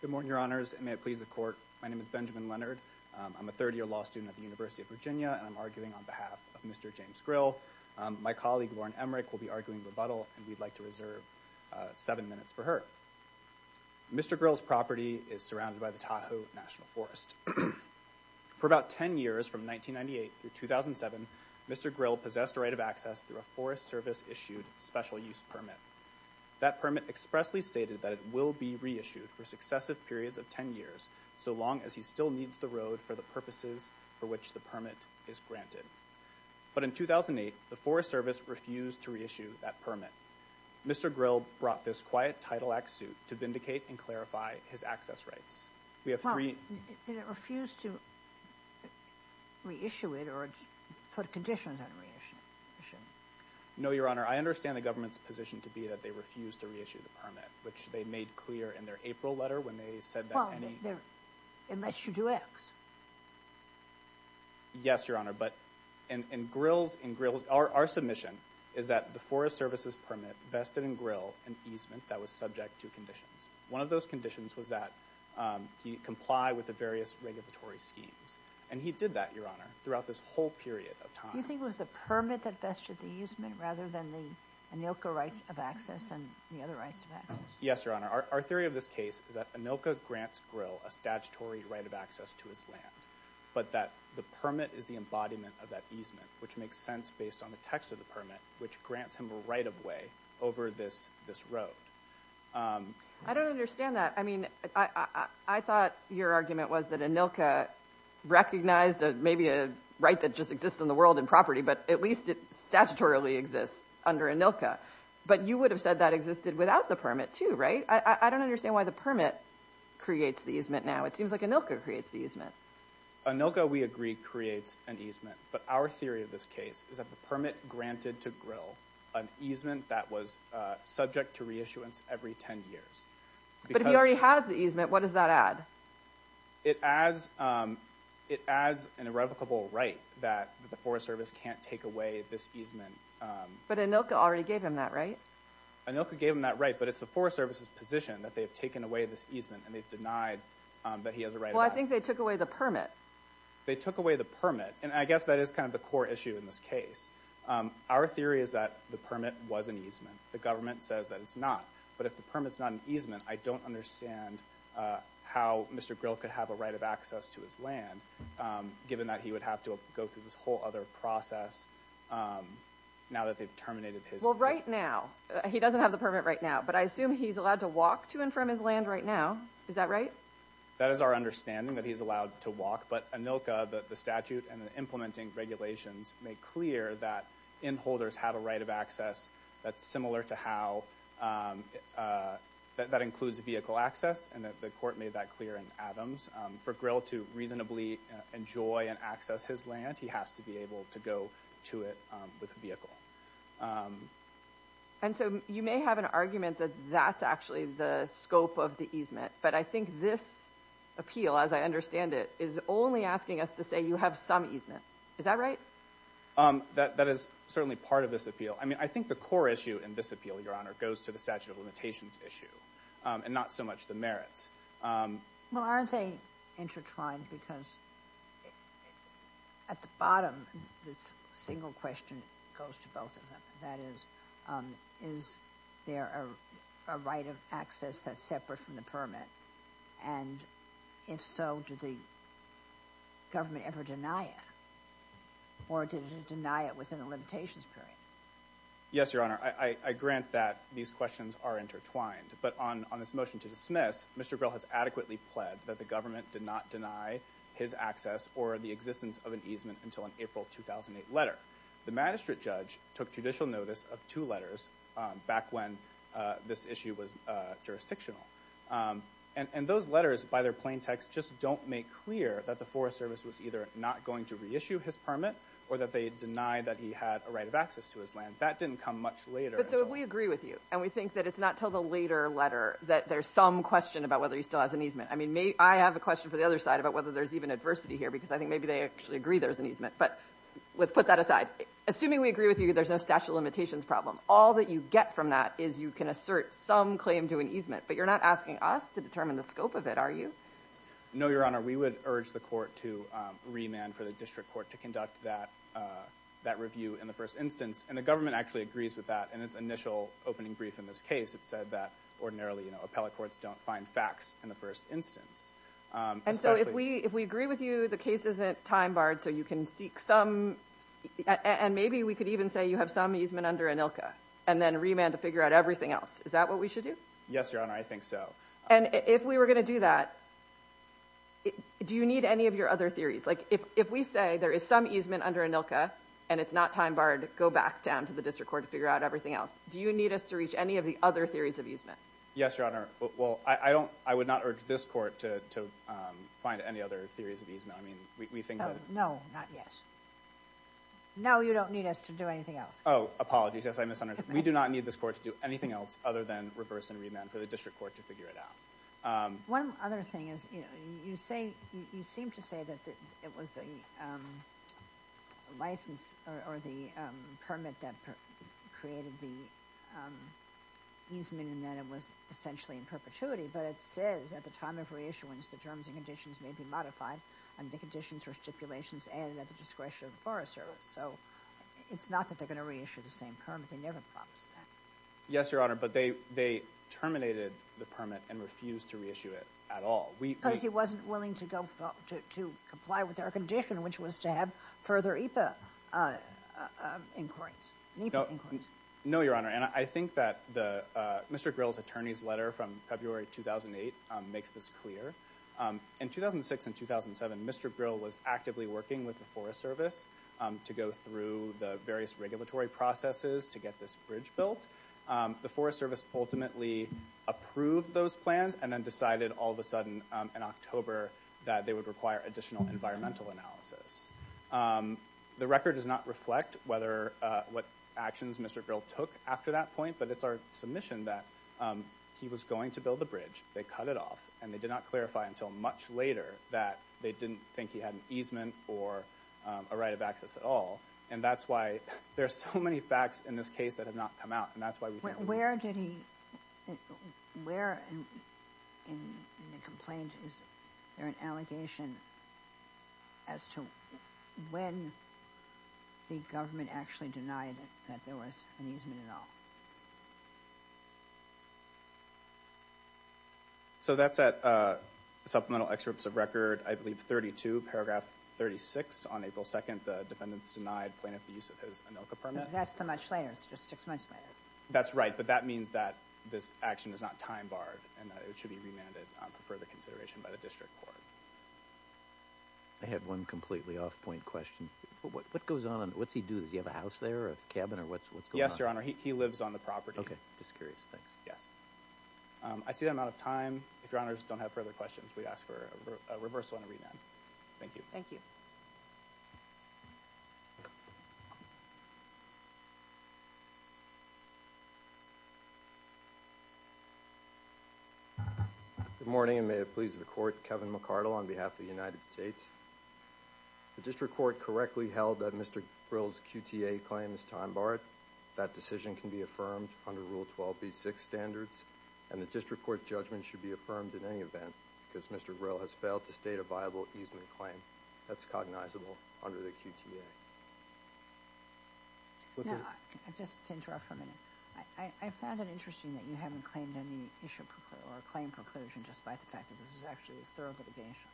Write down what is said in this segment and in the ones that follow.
Good morning, Your Honors, and may it please the Court, my name is Benjamin Leonard. I'm a third-year law student at the University of Virginia, and I'm arguing on behalf of Mr. James Grill. My colleague, Lauren Emrick, will be arguing rebuttal, and we'd like to reserve seven minutes for her. Mr. Grill's property is surrounded by the Tahoe National Forest. For about ten years, from 1998 through 2007, Mr. Grill possessed a right of access through a Forest Service-issued special-use permit. That permit expressly stated that it will be reissued for successive periods of ten years, so long as he still needs the road for the purposes for which the permit is granted. But in 2008, the Forest Service refused to reissue that permit. Mr. Grill brought this quiet Title Act suit to vindicate and clarify his access rights. We have three- Well, did it refuse to reissue it or put conditions on reissuing? No, Your Honor, I understand the government's position to be that they refused to reissue the permit, which they made clear in their April letter when they said that any- Well, unless you do X. Yes, Your Honor, but in Grill's, in Grill's, our submission is that the Forest Service's permit vested in Grill an easement that was subject to conditions. One of those conditions was that he comply with the various regulatory schemes, and he did that, Your Honor, throughout this whole period of time. Do you think it was the permit that vested the easement rather than the ANILCA right of access and the other rights of access? Yes, Your Honor. Our, our theory of this case is that ANILCA grants Grill a statutory right of access to his land, but that the permit is the embodiment of that easement, which makes sense based on the text of the permit, which grants him a right of way over this, this road. I don't understand that. I mean, I, I, I thought your argument was that ANILCA recognized a, maybe a right that just exists in the world in property, but at least it statutorily exists under ANILCA. But you would have said that existed without the permit too, right? I, I, I don't understand why the permit creates the easement now. It seems like ANILCA creates the easement. ANILCA, we agree, creates an easement, but our theory of this case is that the permit granted to Grill an easement that was subject to reissuance every 10 years. Because- But if you already have the easement, what does that add? It adds, it adds an irrevocable right that the Forest Service can't take away this easement. But ANILCA already gave him that right? ANILCA gave him that right, but it's the Forest Service's position that they've taken away this easement and they've denied that he has a right of access. Well, I think they took away the permit. They took away the permit, and I guess that is kind of the core issue in this case. Our theory is that the permit was an easement. The government says that it's not. But if the permit's not an easement, I don't understand how Mr. Grill could have a right of access to his land, given that he would have to go through this whole other process now that they've terminated his- Well, right now. He doesn't have the permit right now, but I assume he's allowed to walk to and from his land right now. Is that right? That is our understanding, that he's allowed to walk. But ANILCA, the statute and the implementing regulations make clear that in-holders have a right of access that's similar to how- that includes vehicle access, and the court made that clear in Adams. For Grill to reasonably enjoy and access his land, he has to be able to go to it with a vehicle. And so you may have an argument that that's actually the scope of the easement, but I this appeal, as I understand it, is only asking us to say you have some easement. Is that right? That is certainly part of this appeal. I mean, I think the core issue in this appeal, Your Honor, goes to the statute of limitations issue, and not so much the merits. Well, aren't they intertwined? Because at the bottom, this single question goes to both of That is, is there a right of access that's separate from the permit? And if so, did the government ever deny it? Or did it deny it within a limitations period? Yes, Your Honor. I grant that these questions are intertwined, but on this motion to dismiss, Mr. Grill has adequately pled that the government did not deny his access or the existence of an letter. The magistrate judge took judicial notice of two letters back when this issue was jurisdictional. And those letters, by their plain text, just don't make clear that the Forest Service was either not going to reissue his permit, or that they denied that he had a right of access to his land. That didn't come much later. But so if we agree with you, and we think that it's not until the later letter that there's some question about whether he still has an easement. I mean, I have a question for the other side about whether there's even adversity here, because I think maybe they actually agree there's an easement. But let's put that aside. Assuming we agree with you, there's no statute of limitations problem. All that you get from that is you can assert some claim to an easement, but you're not asking us to determine the scope of it, are you? No, Your Honor. We would urge the court to remand for the district court to conduct that review in the first instance. And the government actually agrees with that. In its initial opening brief in this case, it said that ordinarily, you know, appellate courts don't find facts in the first instance. And so if we agree with you, the case isn't time barred, so you can seek some, and maybe we could even say you have some easement under ANILCA, and then remand to figure out everything else. Is that what we should do? Yes, Your Honor. I think so. And if we were going to do that, do you need any of your other theories? Like if we say there is some easement under ANILCA, and it's not time barred, go back down to the district court to figure out everything else. Do you need us to reach any of the other theories of easement? Yes, Your Honor. Well, I don't, I would not urge this court to find any other theories of easement. I mean, we think that... No, not yet. No, you don't need us to do anything else. Oh, apologies. Yes, I misunderstood. We do not need this court to do anything else other than reverse and remand for the district court to figure it out. One other thing is, you know, you say, you seem to say that it was the license or the permit that created the easement and that it was essentially in perpetuity. But it says, at the time of reissuance, the terms and conditions may be modified under the conditions or stipulations and at the discretion of the Forest Service. So it's not that they're going to reissue the same permit. They never promised that. Yes, Your Honor. But they terminated the permit and refused to reissue it at all. Because he wasn't willing to go to comply with our condition, which was to have further NEPA inquiries. No, Your Honor. And I think that Mr. Grill's attorney's letter from February 2008 makes this clear. In 2006 and 2007, Mr. Grill was actively working with the Forest Service to go through the various regulatory processes to get this bridge built. The Forest Service ultimately approved those plans and then decided all of a sudden in October that they would the record does not reflect whether what actions Mr. Grill took after that point, but it's our submission that he was going to build the bridge. They cut it off and they did not clarify until much later that they didn't think he had an easement or a right of access at all. And that's why there's so many facts in this case that have not come out. And that's why the government actually denied that there was an easement at all. So that's at Supplemental Excerpts of Record, I believe, 32, paragraph 36, on April 2nd, the defendants denied plaintiff the use of his ANILCA permit. That's the much later. It's just six months later. That's right. But that means that this action is not time barred and that it should be remanded for further consideration by the District Court. I have one completely off-point question. What goes on? What's he do? Does he have a house there, a cabin, or what's going on? Yes, Your Honor. He lives on the property. Okay. Just curious. Thanks. Yes. I see that I'm out of time. If Your Honors don't have further questions, we'd ask for a reversal and a remand. Thank you. Thank you. Good morning, and may it please the Court, Kevin McCardle on behalf of the United States. The District Court correctly held that Mr. Grill's QTA claim is time barred. That decision can be affirmed under Rule 12b-6 standards, and the District Court's judgment should be affirmed in any event, because Mr. Grill has failed to state a viable easement claim that's cognizable under the QTA. Now, just to interrupt for a minute, I found it interesting that you haven't claimed any issue or claim preclusion, just by the fact that this is actually a thorough investigation.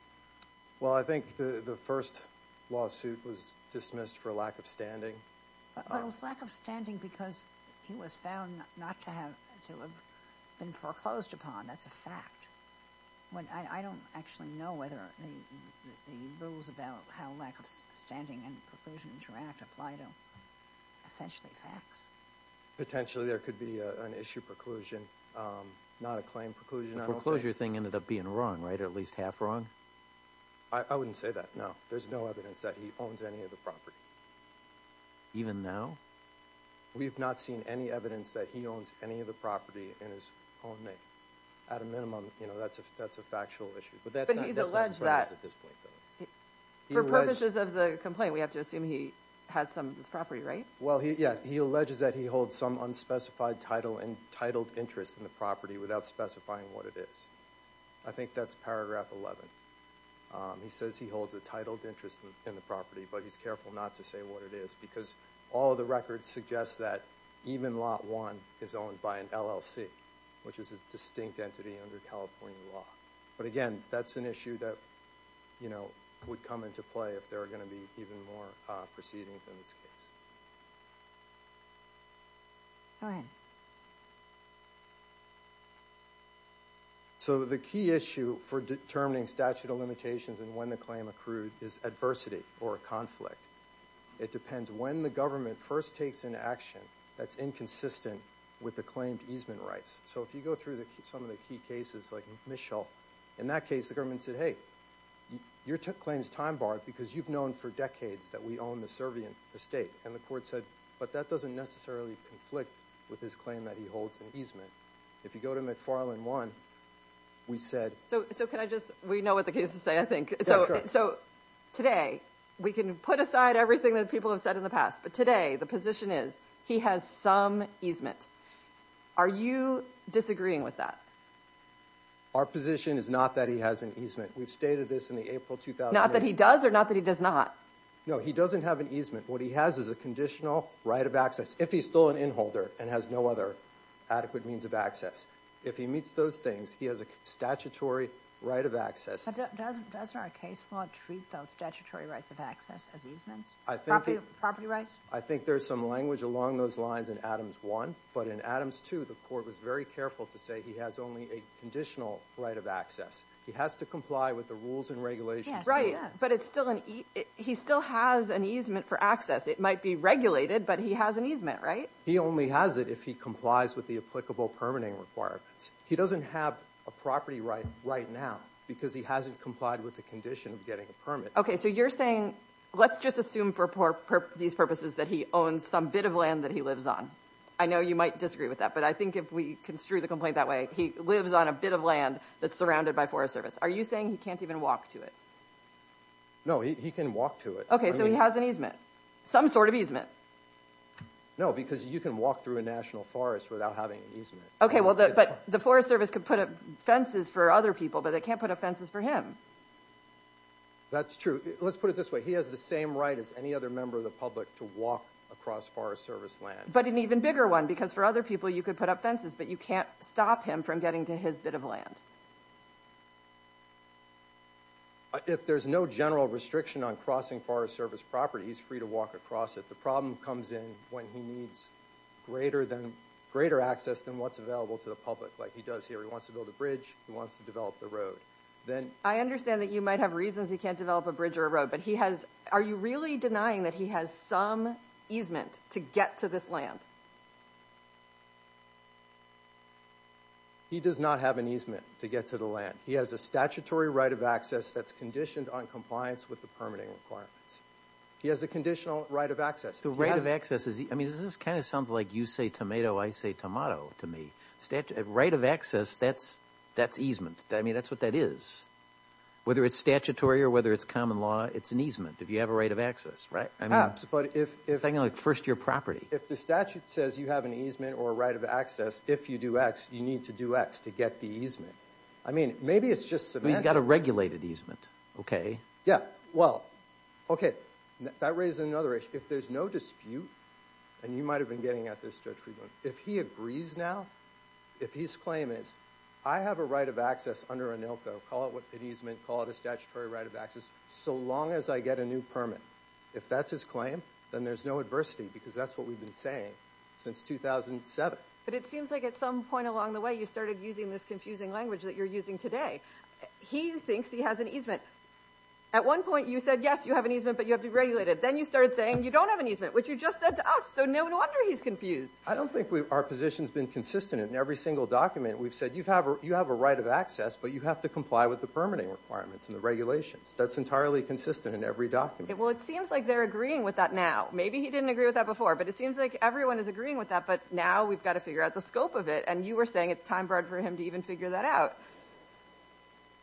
Well, I think the first lawsuit was dismissed for lack of standing. Oh, it was lack of standing because he was found not to have been foreclosed upon. That's a fact. I don't actually know whether the rules about how lack of standing and preclusion interact apply to essentially facts. Potentially, there could be an issue preclusion, not a claim preclusion. The foreclosure thing ended up being wrong, right? Or at least half wrong? I wouldn't say that, no. There's no evidence that he owns any of the property. Even now? We've not seen any evidence that he owns any of the property in his own name. At a minimum, you know, that's a factual issue. But he's alleged that, for purposes of the complaint, we have to assume he has some of this property, right? Well, yeah, he alleges that he holds some unspecified title and titled interest in the property without specifying what it is. I think that's paragraph 11. He says he holds a titled interest in the property, but he's careful not to say what it is because all the records suggest that even Lot 1 is owned by an LLC, which is a distinct entity under California law. But again, that's an issue that, you know, would come into play if there are going to be even more proceedings in this case. Go ahead. So the key issue for determining statute of limitations and when the claim accrued is adversity or a conflict. It depends when the government first takes an action that's inconsistent with the claimed easement rights. So if you go through some of the key cases like Mitchell, in that case the government said, hey, your claim is time-barred because you've known for decades that we own the servient estate. And the court said, but that doesn't necessarily conflict with his claim that he holds an easement. If you go to McFarland 1, we said. So can I just, we know what the cases say, I think. So today we can put aside everything that people have said in the past, but today the position is he has some easement. Are you disagreeing with that? Our position is not that he has an easement. We've stated this in the April 2008. Not that he does or not that he does not. No, he doesn't have an easement. What he has is a conditional right of access. If he's still an inholder and has no other adequate means of access. If he meets those things, he has a statutory right of access. Doesn't our case law treat those statutory rights of access as easements? Property rights? I think there's some language along those lines in Adams 1, but in Adams 2, the court was very careful to say he has only a conditional right of access. He has to comply with the rules and regulations. Right, but he still has an easement for access. It might be regulated, but he has an easement, right? He only has it if he complies with the applicable permitting requirements. He doesn't have a property right right now because he hasn't complied with the condition of getting a permit. Okay, so you're saying let's just assume for these purposes that he owns some bit of land that he lives on. I know you might disagree with that, but I think if we construe the complaint that way, he lives on a bit of land that's surrounded by Forest Service. Are you saying he can't even walk to it? No, he can walk to it. Okay, so he has an easement, some sort of easement. No, because you can walk through a national forest without having an easement. Okay, well, but the Forest Service could put up fences for other people, but they can't put up fences for him. That's true. Let's put it this way. He has the same right as any other member of the public to walk across Forest Service land. But an even bigger one, because for other people, you could put up fences, but you can't stop him from getting to his bit of land. If there's no general restriction on crossing Forest Service property, he's free to walk across it. The problem comes in when he needs greater access than what's available to the public like he does here. He wants to build a bridge. He wants to develop the road. I understand that you might have reasons he can't develop a bridge or a road, but are you really denying that he has some easement to get to this land? He does not have an easement to get to the land. He has a statutory right of access that's conditioned on compliance with the permitting requirements. He has a conditional right of access. The right of access, I mean, this kind of sounds like you say tomato, I say tomato to me. Right of access, that's easement. I mean, that's what that is. Whether it's statutory or whether it's common law, it's an easement if you have a right of access, right? If the statute says you have an easement or a right of access, if you do X, you need to do X to get the easement. I mean, maybe it's just semantic. He's got a regulated easement, okay. Yeah, well, okay, that raises another issue. If there's no dispute, and you might have been getting at this, Judge Friedland, if he agrees now, if his claim is, I have a right of access under ANILCO, call it an easement, call it a statutory right of access, so long as I get a permit. If that's his claim, then there's no adversity because that's what we've been saying since 2007. But it seems like at some point along the way, you started using this confusing language that you're using today. He thinks he has an easement. At one point, you said, yes, you have an easement, but you have to regulate it. Then you started saying you don't have an easement, which you just said to us, so no wonder he's confused. I don't think our position has been consistent in every single document. We've said you have a right of access, but you have to comply with the permitting requirements and the regulations. That's entirely consistent in every document. Well, it seems like they're agreeing with that now. Maybe he didn't agree with that before, but it seems like everyone is agreeing with that, but now we've got to figure out the scope of it. And you were saying it's time for him to even figure that out.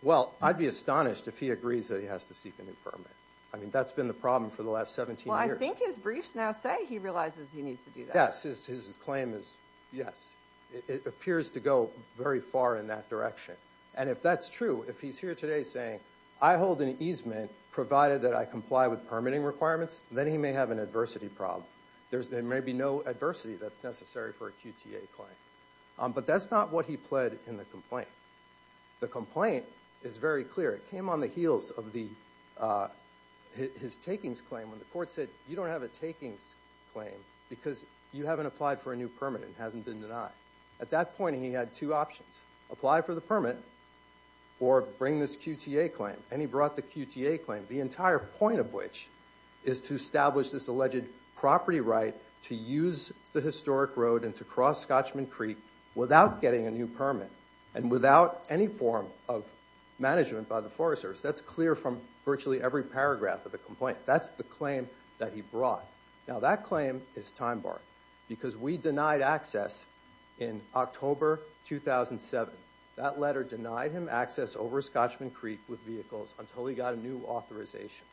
Well, I'd be astonished if he agrees that he has to seek a new permit. I mean, that's been the problem for the last 17 years. Well, I think his briefs now say he realizes he needs to do that. His claim is yes. It appears to go very far in that direction. And if that's true, if he's here today saying, I hold an easement, provided that I comply with permitting requirements, then he may have an adversity problem. There may be no adversity that's necessary for a QTA claim. But that's not what he pled in the complaint. The complaint is very clear. It came on the heels of his takings claim when the court said, you don't have a takings claim because you haven't applied for a new permit and it hasn't been denied. At that point, he had two options. Apply for the permit or bring this QTA claim. And he brought the QTA claim, the entire point of which is to establish this alleged property right to use the historic road and to cross Scotchman Creek without getting a new permit and without any form of management by the Forest Service. That's clear from virtually every paragraph of the complaint. That's the claim that he brought. Now, that claim is time-barring because we denied access in October 2007. That letter denied him access over Scotchman Creek with vehicles until he got a new authorization.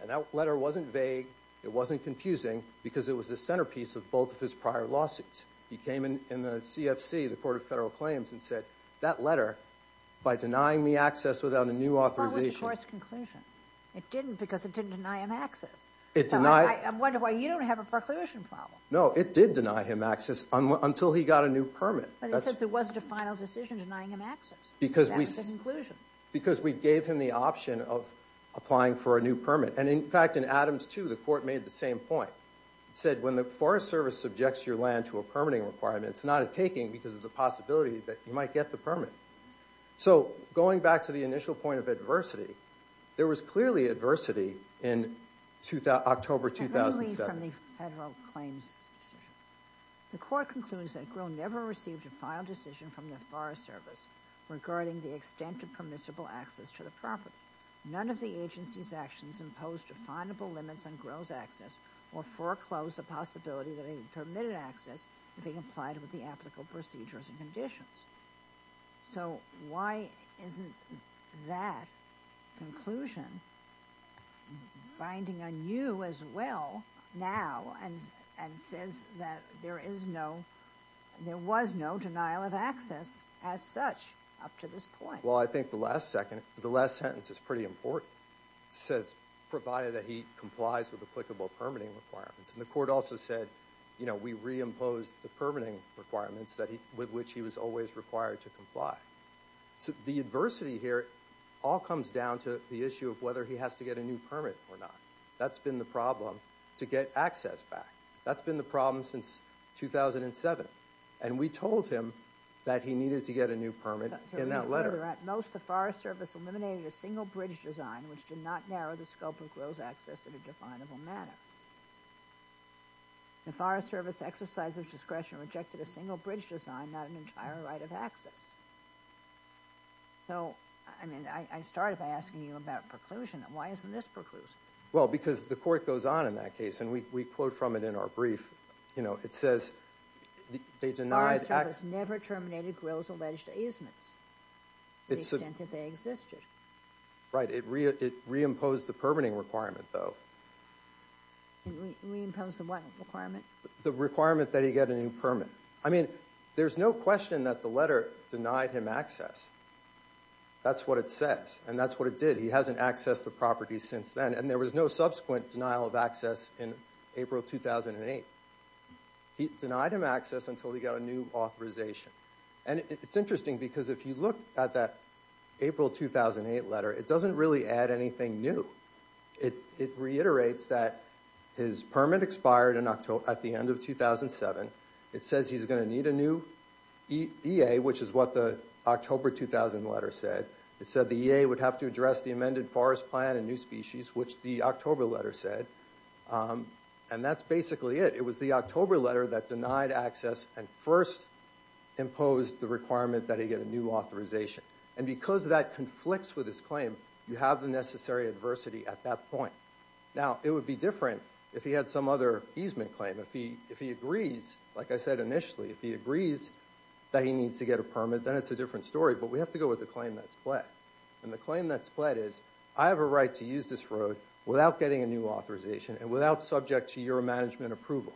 And that letter wasn't vague. It wasn't confusing because it was the centerpiece of both of his prior lawsuits. He came in the CFC, the Court of Federal Claims, and said, that letter, by denying me access without a new authorization. It wasn't a forced conclusion. It didn't because it didn't deny him access. It's not. I wonder why you don't have a preclusion problem. No, it did deny him access until he got a new permit. But he said it wasn't a final decision denying him access. Because we gave him the option of applying for a new permit. And in fact, in Adams 2, the Court made the same point. It said, when the Forest Service subjects your land to a permitting requirement, it's not a taking because of the possibility that you might get the permit. So, going back to the initial point of adversity, there was clearly adversity in October 2007. Let me read from the Federal Claims decision. The court concludes that Grill never received a final decision from the Forest Service regarding the extent of permissible access to the property. None of the agency's actions imposed definable limits on Grill's access or foreclosed the possibility that he permitted access if he applied with the so why isn't that conclusion binding on you as well now and says that there is no, there was no denial of access as such up to this point? Well, I think the last second, the last sentence is pretty important. It says, provided that he complies with applicable permitting requirements. And the court also said, you know, we reimposed the permitting requirements that he, with which he was always required to comply. So the adversity here all comes down to the issue of whether he has to get a new permit or not. That's been the problem to get access back. That's been the problem since 2007. And we told him that he needed to get a new permit in that letter. At most, the Forest Service eliminated a single bridge design which did not narrow the scope of Grill's access in a definable manner. The Forest Service exercise of discretion rejected a single bridge design, not an entire right of access. So, I mean, I started by asking you about preclusion. Why isn't this preclusion? Well, because the court goes on in that case, and we quote from it in our brief, you know, it says, they denied... The Forest Service never terminated Grill's alleged easements to the extent that they existed. Right. It reimposed the permitting requirement, though. Reimpose the what requirement? The requirement that he get a new permit. I mean, there's no question that the letter denied him access. That's what it says, and that's what it did. He hasn't accessed the property since then, and there was no subsequent denial of access in April 2008. He denied him access until he got a new authorization. And it's interesting because if you look at that April 2008 letter, it doesn't really add anything new. It reiterates that his permit expired in 2007. It says he's going to need a new EA, which is what the October 2000 letter said. It said the EA would have to address the amended forest plan and new species, which the October letter said. And that's basically it. It was the October letter that denied access and first imposed the requirement that he get a new authorization. And because that conflicts with his claim, you have the necessary adversity at that point. Now, it would be different if he had some other easement claim. If he agrees, like I said initially, if he agrees that he needs to get a permit, then it's a different story. But we have to go with the claim that's pledged. And the claim that's pledged is I have a right to use this road without getting a new authorization and without subject to your management approval.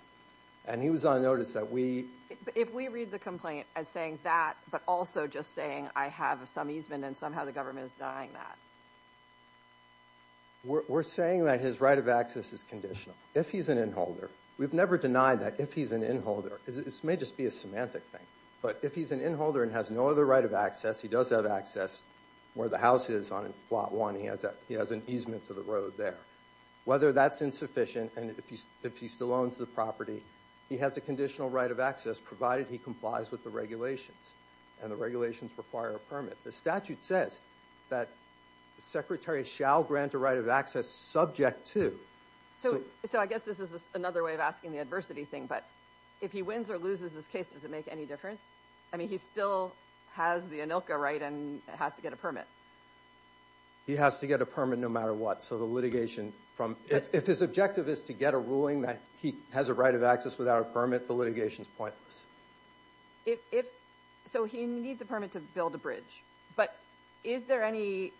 And he was on notice that we... If we read the complaint as saying that, but also just saying I have some easement and somehow the his right of access is conditional. If he's an inholder, we've never denied that if he's an inholder, this may just be a semantic thing, but if he's an inholder and has no other right of access, he does have access where the house is on plot one, he has an easement to the road there. Whether that's insufficient and if he still owns the property, he has a conditional right of access provided he complies with the regulations and the regulations require a permit. The statute says that the secretary shall grant a right of access subject to... So I guess this is another way of asking the adversity thing, but if he wins or loses this case, does it make any difference? I mean, he still has the ANILCA right and has to get a permit. He has to get a permit no matter what. So the litigation from... If his objective is to get a ruling that he has a right of access without a permit, the litigation is pointless. If... So he needs a permit to build a bridge, but is there any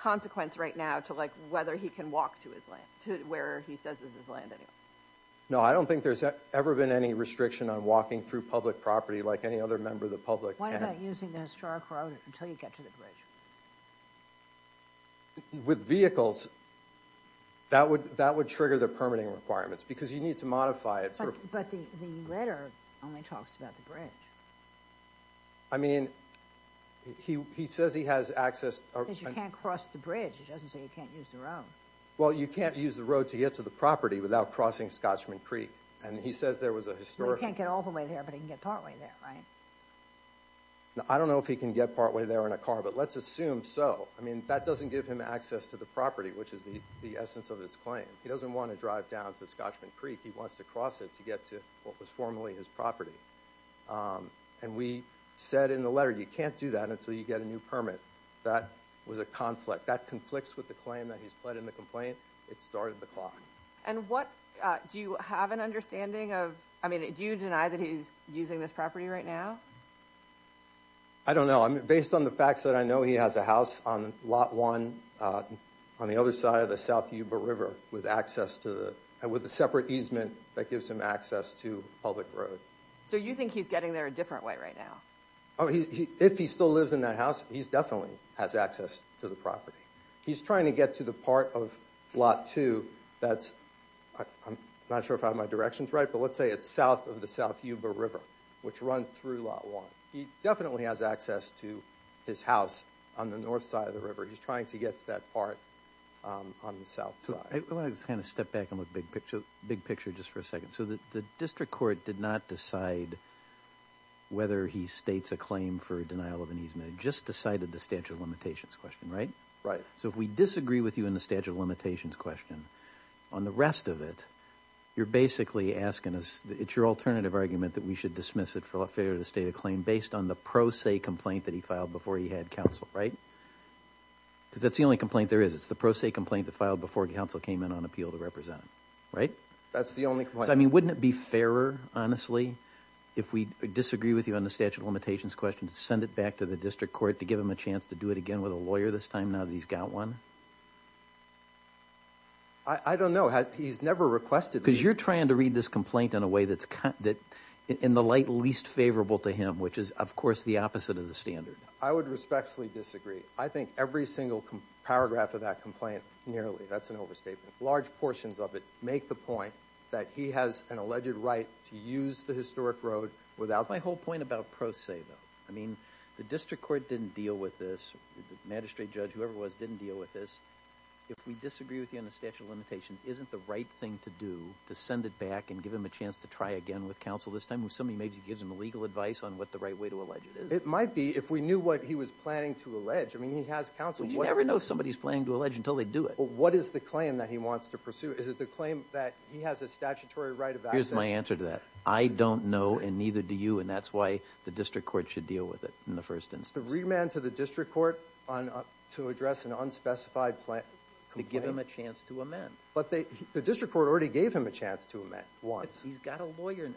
consequence right now to whether he can walk to his land, to where he says is his land anyway? No, I don't think there's ever been any restriction on walking through public property like any other member of the public can. Why not using the historic road until you get to the bridge? With vehicles, that would trigger the permitting requirements because you need to modify it. But the letter only talks about the bridge. I mean, he says he has access... Because you can't cross the bridge. It doesn't say you can't use the road. Well, you can't use the road to get to the property without crossing Scotchman Creek, and he says there was a historic... Well, he can't get all the way there, but he can get partway there, right? I don't know if he can get partway there in a car, but let's assume so. I mean, that doesn't give him access to the property, which is the essence of his claim. He doesn't want to drive down to Scotchman Creek. He wants to cross it to get to what was formerly his property. And we said in the letter, you can't do that until you get a new permit. That was a conflict. That conflicts with the claim that he's pled in the complaint. It started the clock. Do you have an understanding of... I mean, do you deny that he's using this property right now? I don't know. Based on the facts that I know, he has a house on lot one on the other side of the Yuba River with the separate easement that gives him access to public road. So you think he's getting there a different way right now? If he still lives in that house, he definitely has access to the property. He's trying to get to the part of lot two that's... I'm not sure if I have my directions right, but let's say it's south of the South Yuba River, which runs through lot one. He definitely has access to his house on the north side of the river. He's trying to get to that part on the south side. I want to step back and look big picture just for a second. So the district court did not decide whether he states a claim for denial of an easement. It just decided the statute of limitations question, right? Right. So if we disagree with you in the statute of limitations question, on the rest of it, you're basically asking us, it's your alternative argument that we should dismiss it for a failure to state a claim based on the pro se complaint that he filed before he had counsel, right? Because that's the only complaint there is. It's the pro se complaint that filed before counsel came in on appeal to represent him, right? That's the only complaint. I mean, wouldn't it be fairer, honestly, if we disagree with you on the statute of limitations question, to send it back to the district court to give him a chance to do it again with a lawyer this time now that he's got one? I don't know. He's never requested... Because you're trying to read this complaint in a way that's in the light least favorable to him, which is, of course, the opposite of the standard. I would respectfully disagree. I think every single paragraph of that complaint, nearly, that's an overstatement. Large portions of it make the point that he has an alleged right to use the historic road without... My whole point about pro se, though. I mean, the district court didn't deal with this. Magistrate, judge, whoever it was, didn't deal with this. If we disagree with you on the statute of limitations, isn't the right thing to do to send it back and give him a chance to try again with counsel this time, when somebody maybe gives him legal advice on what the right way to allege it is? It might be if we knew what he was planning to allege. I mean, he has counsel... You never know if somebody's planning to allege until they do it. What is the claim that he wants to pursue? Is it the claim that he has a statutory right of access? Here's my answer to that. I don't know, and neither do you, and that's why the district court should deal with it in the first instance. The remand to the district court to address an unspecified complaint? To give him a chance to amend. But the district court already gave him a chance to amend once. He's got a lawyer.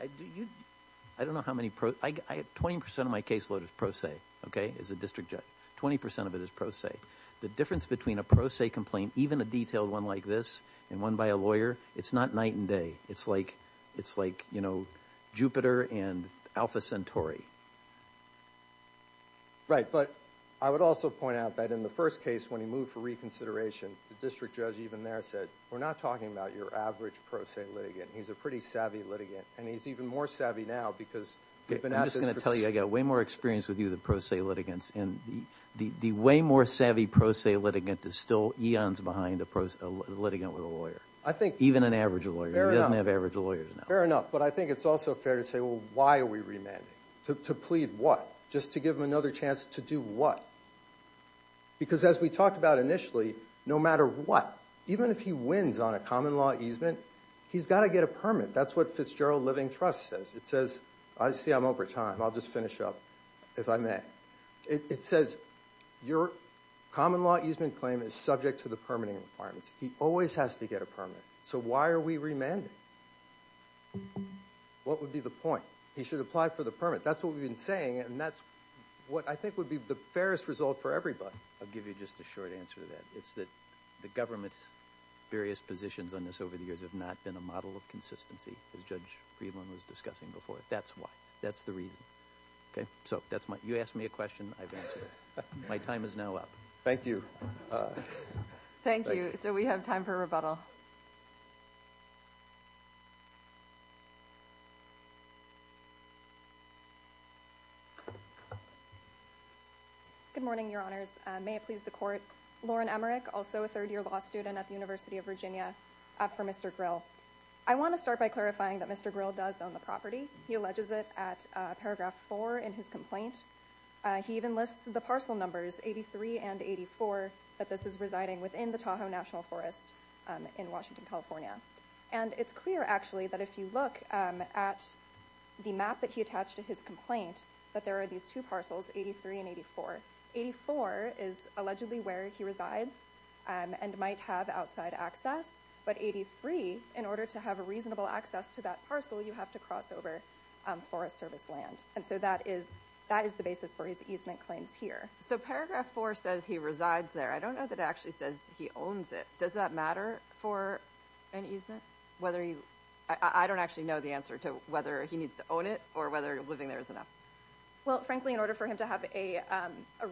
I don't know how many pros... 20% of my caseload is pro se, okay, as a district judge. 20% of it is pro se. The difference between a pro se complaint, even a detailed one like this, and one by a lawyer, it's not night and day. It's like, you know, Jupiter and Alpha Centauri. Right, but I would also point out that in the first case, when he moved for reconsideration, the district judge even there said, we're not talking about your average pro se litigant. He's a pretty savvy litigant, and he's even more savvy now because... Okay, I'm just going to tell you, I got way more experience with you than pro se litigants, and the way more savvy pro se litigant is still eons behind a litigant with a lawyer. I think... Even an average lawyer. He doesn't have average lawyers now. Fair enough, but I think it's also fair to say, well, why are we remanding? To plead what? Just to give him another chance to do what? Because as we talked about initially, no matter what, even if he wins on a common law easement, he's got to get a permit. That's what Fitzgerald Living Trust says. It says, I see I'm over time. I'll just finish up, if I may. It says, your common law easement claim is subject to the permitting requirements. He always has to get a permit. So why are we remanding? What would be the point? He should apply for the permit. That's what we've been saying, and that's what I think would be the fairest result for everybody. I'll give you just a short answer to that. It's that the government's various positions on this over the years have not been a model of consistency, as Judge Friedman was discussing before. That's why. That's the reason. Okay, so that's my... You asked me a question. I've answered it. My time is now up. Thank you. Thank you. So we have time for rebuttal. Good morning, Your Honors. May it please the Court. Lauren Emmerich, also a third-year law student at the University of Virginia, for Mr. Grill. I want to start by clarifying that Mr. Grill does own the property. He alleges it at paragraph 4 in his complaint. He even lists the parcel numbers, 83 and 84, that this is residing within the Tahoe National Forest in Washington, California. And it's clear, actually, that if you look at the map that he attached to his complaint, that there are these two parcels, 83 and 84. 84 is allegedly where he resides and might have outside access. But 83, in order to have a reasonable access to that parcel, you have to cross over forest service land. And so that is the basis for his easement claims here. So paragraph 4 says he resides there. I don't know that it actually says he owns it. Does that matter for an easement? Whether you... I don't actually know the answer to whether he needs to own it or whether living there is enough. Well, frankly, in order for him to have a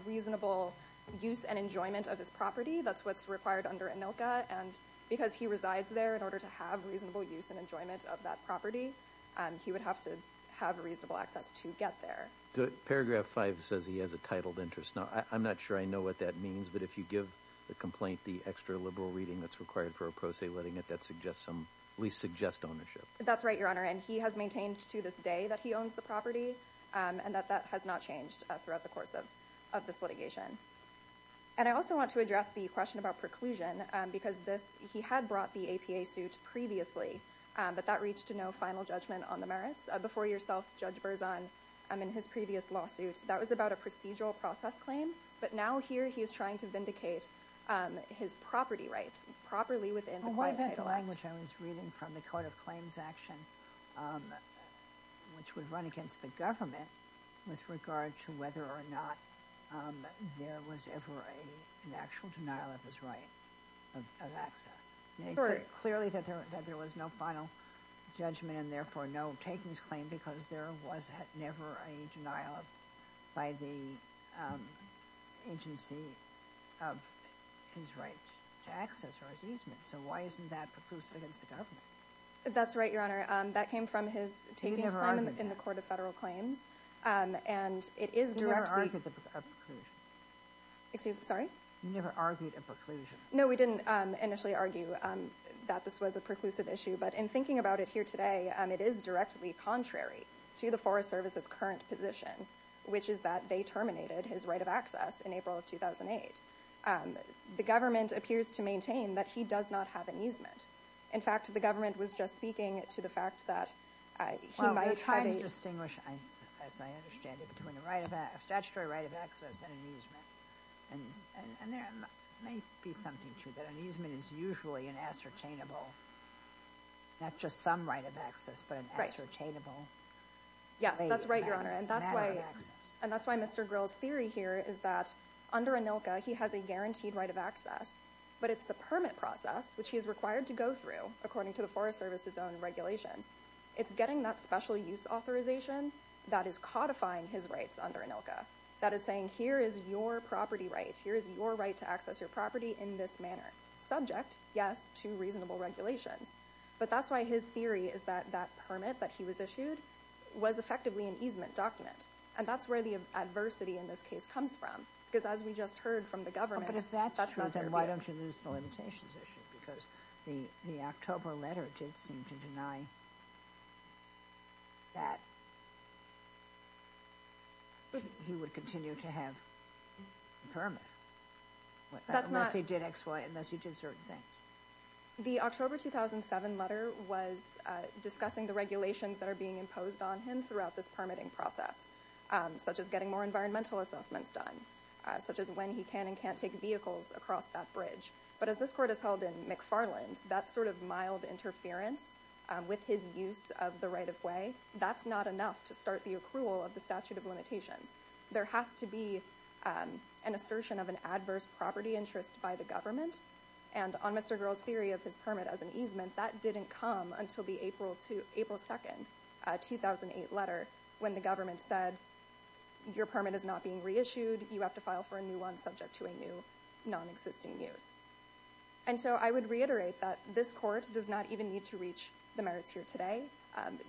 reasonable use and enjoyment of his property, that's what's required under ANILCA. And because he resides there, in order to have reasonable use and enjoyment of that property, he would have to have reasonable access to get there. The paragraph 5 says he has a titled interest. Now, I'm not sure I know what that means. But if you give the complaint the extra-liberal reading that's required for a pro se letting it, that suggests some... At least suggests ownership. That's right, Your Honor. And he has maintained to this day that he owns the property. And that that has not changed throughout the course of this litigation. And I also want to address the question about preclusion. Because this... He had brought the APA suit previously. But that reached to no final judgment on the merits. Before yourself, Judge Berzon, in his previous lawsuit, that was about a procedural process claim. But now, here, he is trying to vindicate his property rights. Properly within the... Well, what about the language I was reading from the Court of Claims Action, which would run against the government, with regard to whether or not there was ever an actual denial of his right of access? Clearly, that there was no final judgment. And therefore, no takings claim. Because there was never a denial by the agency of his right to access or his easement. So why isn't that preclusive against the government? That's right, Your Honor. That came from his takings claim in the Court of Federal Claims. And it is directly... You never argued a preclusion. Excuse me? Sorry? You never argued a preclusion. No, we didn't initially argue that this was a preclusive issue. But in thinking about it here today, it is directly contrary to the Forest Service's current position, which is that they terminated his right of access in April of 2008. The government appears to maintain that he does not have an easement. In fact, the government was just speaking to the fact that he might have a... Well, we're trying to distinguish, as I understand it, between a statutory right of access and an easement. And there may be something to that. An easement is usually an ascertainable, not just some right of access, but an ascertainable matter of access. Yes, that's right, Your Honor. And that's why Mr. Grill's theory here is that under ANILCA, he has a guaranteed right of access, but it's the permit process, which he is required to go through, according to the Forest Service's own regulations, it's getting that special use authorization that is codifying his rights under ANILCA. That is saying, here is your property right. Here is your right to access your property in this manner. Subject, yes, to reasonable regulations. But that's why his theory is that that permit that he was issued was effectively an easement document. And that's where the adversity in this case comes from. Because as we just heard from the government... If that's true, then why don't you lose the limitations issue? Because the October letter did seem to deny that he would continue to have a permit. Unless he did XY, unless he did certain things. The October 2007 letter was discussing the regulations that are being imposed on him throughout this permitting process, such as getting more environmental assessments done, such as when he can and can't take vehicles across that bridge. But as this court has held in McFarland, that sort of mild interference with his use of the right-of-way, that's not enough to start the accrual of the statute of limitations. There has to be an assertion of an adverse property interest by the government. And on Mr. Grohl's theory of his permit as an easement, that didn't come until the April 2nd 2008 letter, when the government said, your permit is not being reissued, you have to file for a new one subject to a new non-existing use. And so I would reiterate that this court does not even need to reach the merits here today.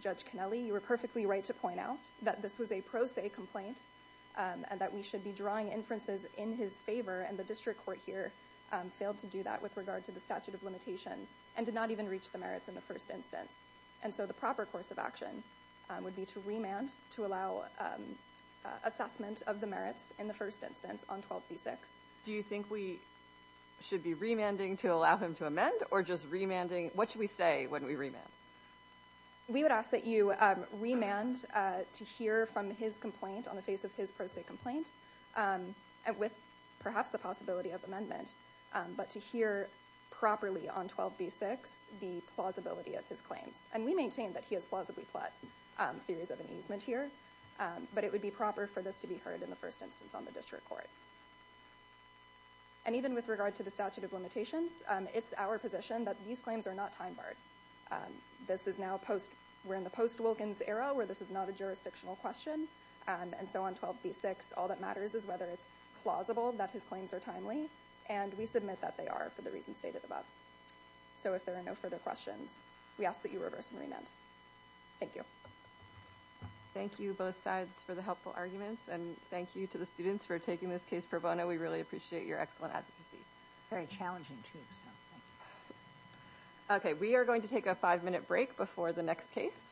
Judge Kennelly, you were perfectly right to point out that this was a pro se complaint, and that we should be drawing inferences in his favor, and the district court here failed to do that with regard to the statute of limitations, and did not even reach the merits in the first instance. And so the proper course of action would be to remand, to allow assessment of the merits in the first instance on 12b6. Do you think we should be remanding to allow him to amend, or just remanding, what should we say when we remand? We would ask that you remand to hear from his complaint on the face of his pro se complaint, with perhaps the possibility of amendment, but to hear properly on 12b6 the plausibility of his claims. And we maintain that he has plausibly plot theories of an easement here, but it would be proper for this to be heard in the first instance on the district court. And even with regard to the statute of limitations, it's our position that these claims are not time barred. We're in the post-Wilkins era, where this is not a jurisdictional question, and so on 12b6, all that matters is whether it's plausible that his claims are timely, and we submit that they are for the reasons stated above. So if there are no further questions, we ask that you reverse and remand. Thank you. Thank you both sides for the helpful arguments, and thank you to the students for taking this case pro bono. We really appreciate your excellent advocacy. Very challenging too, so thank you. Okay, we are going to take a five minute break before the next case.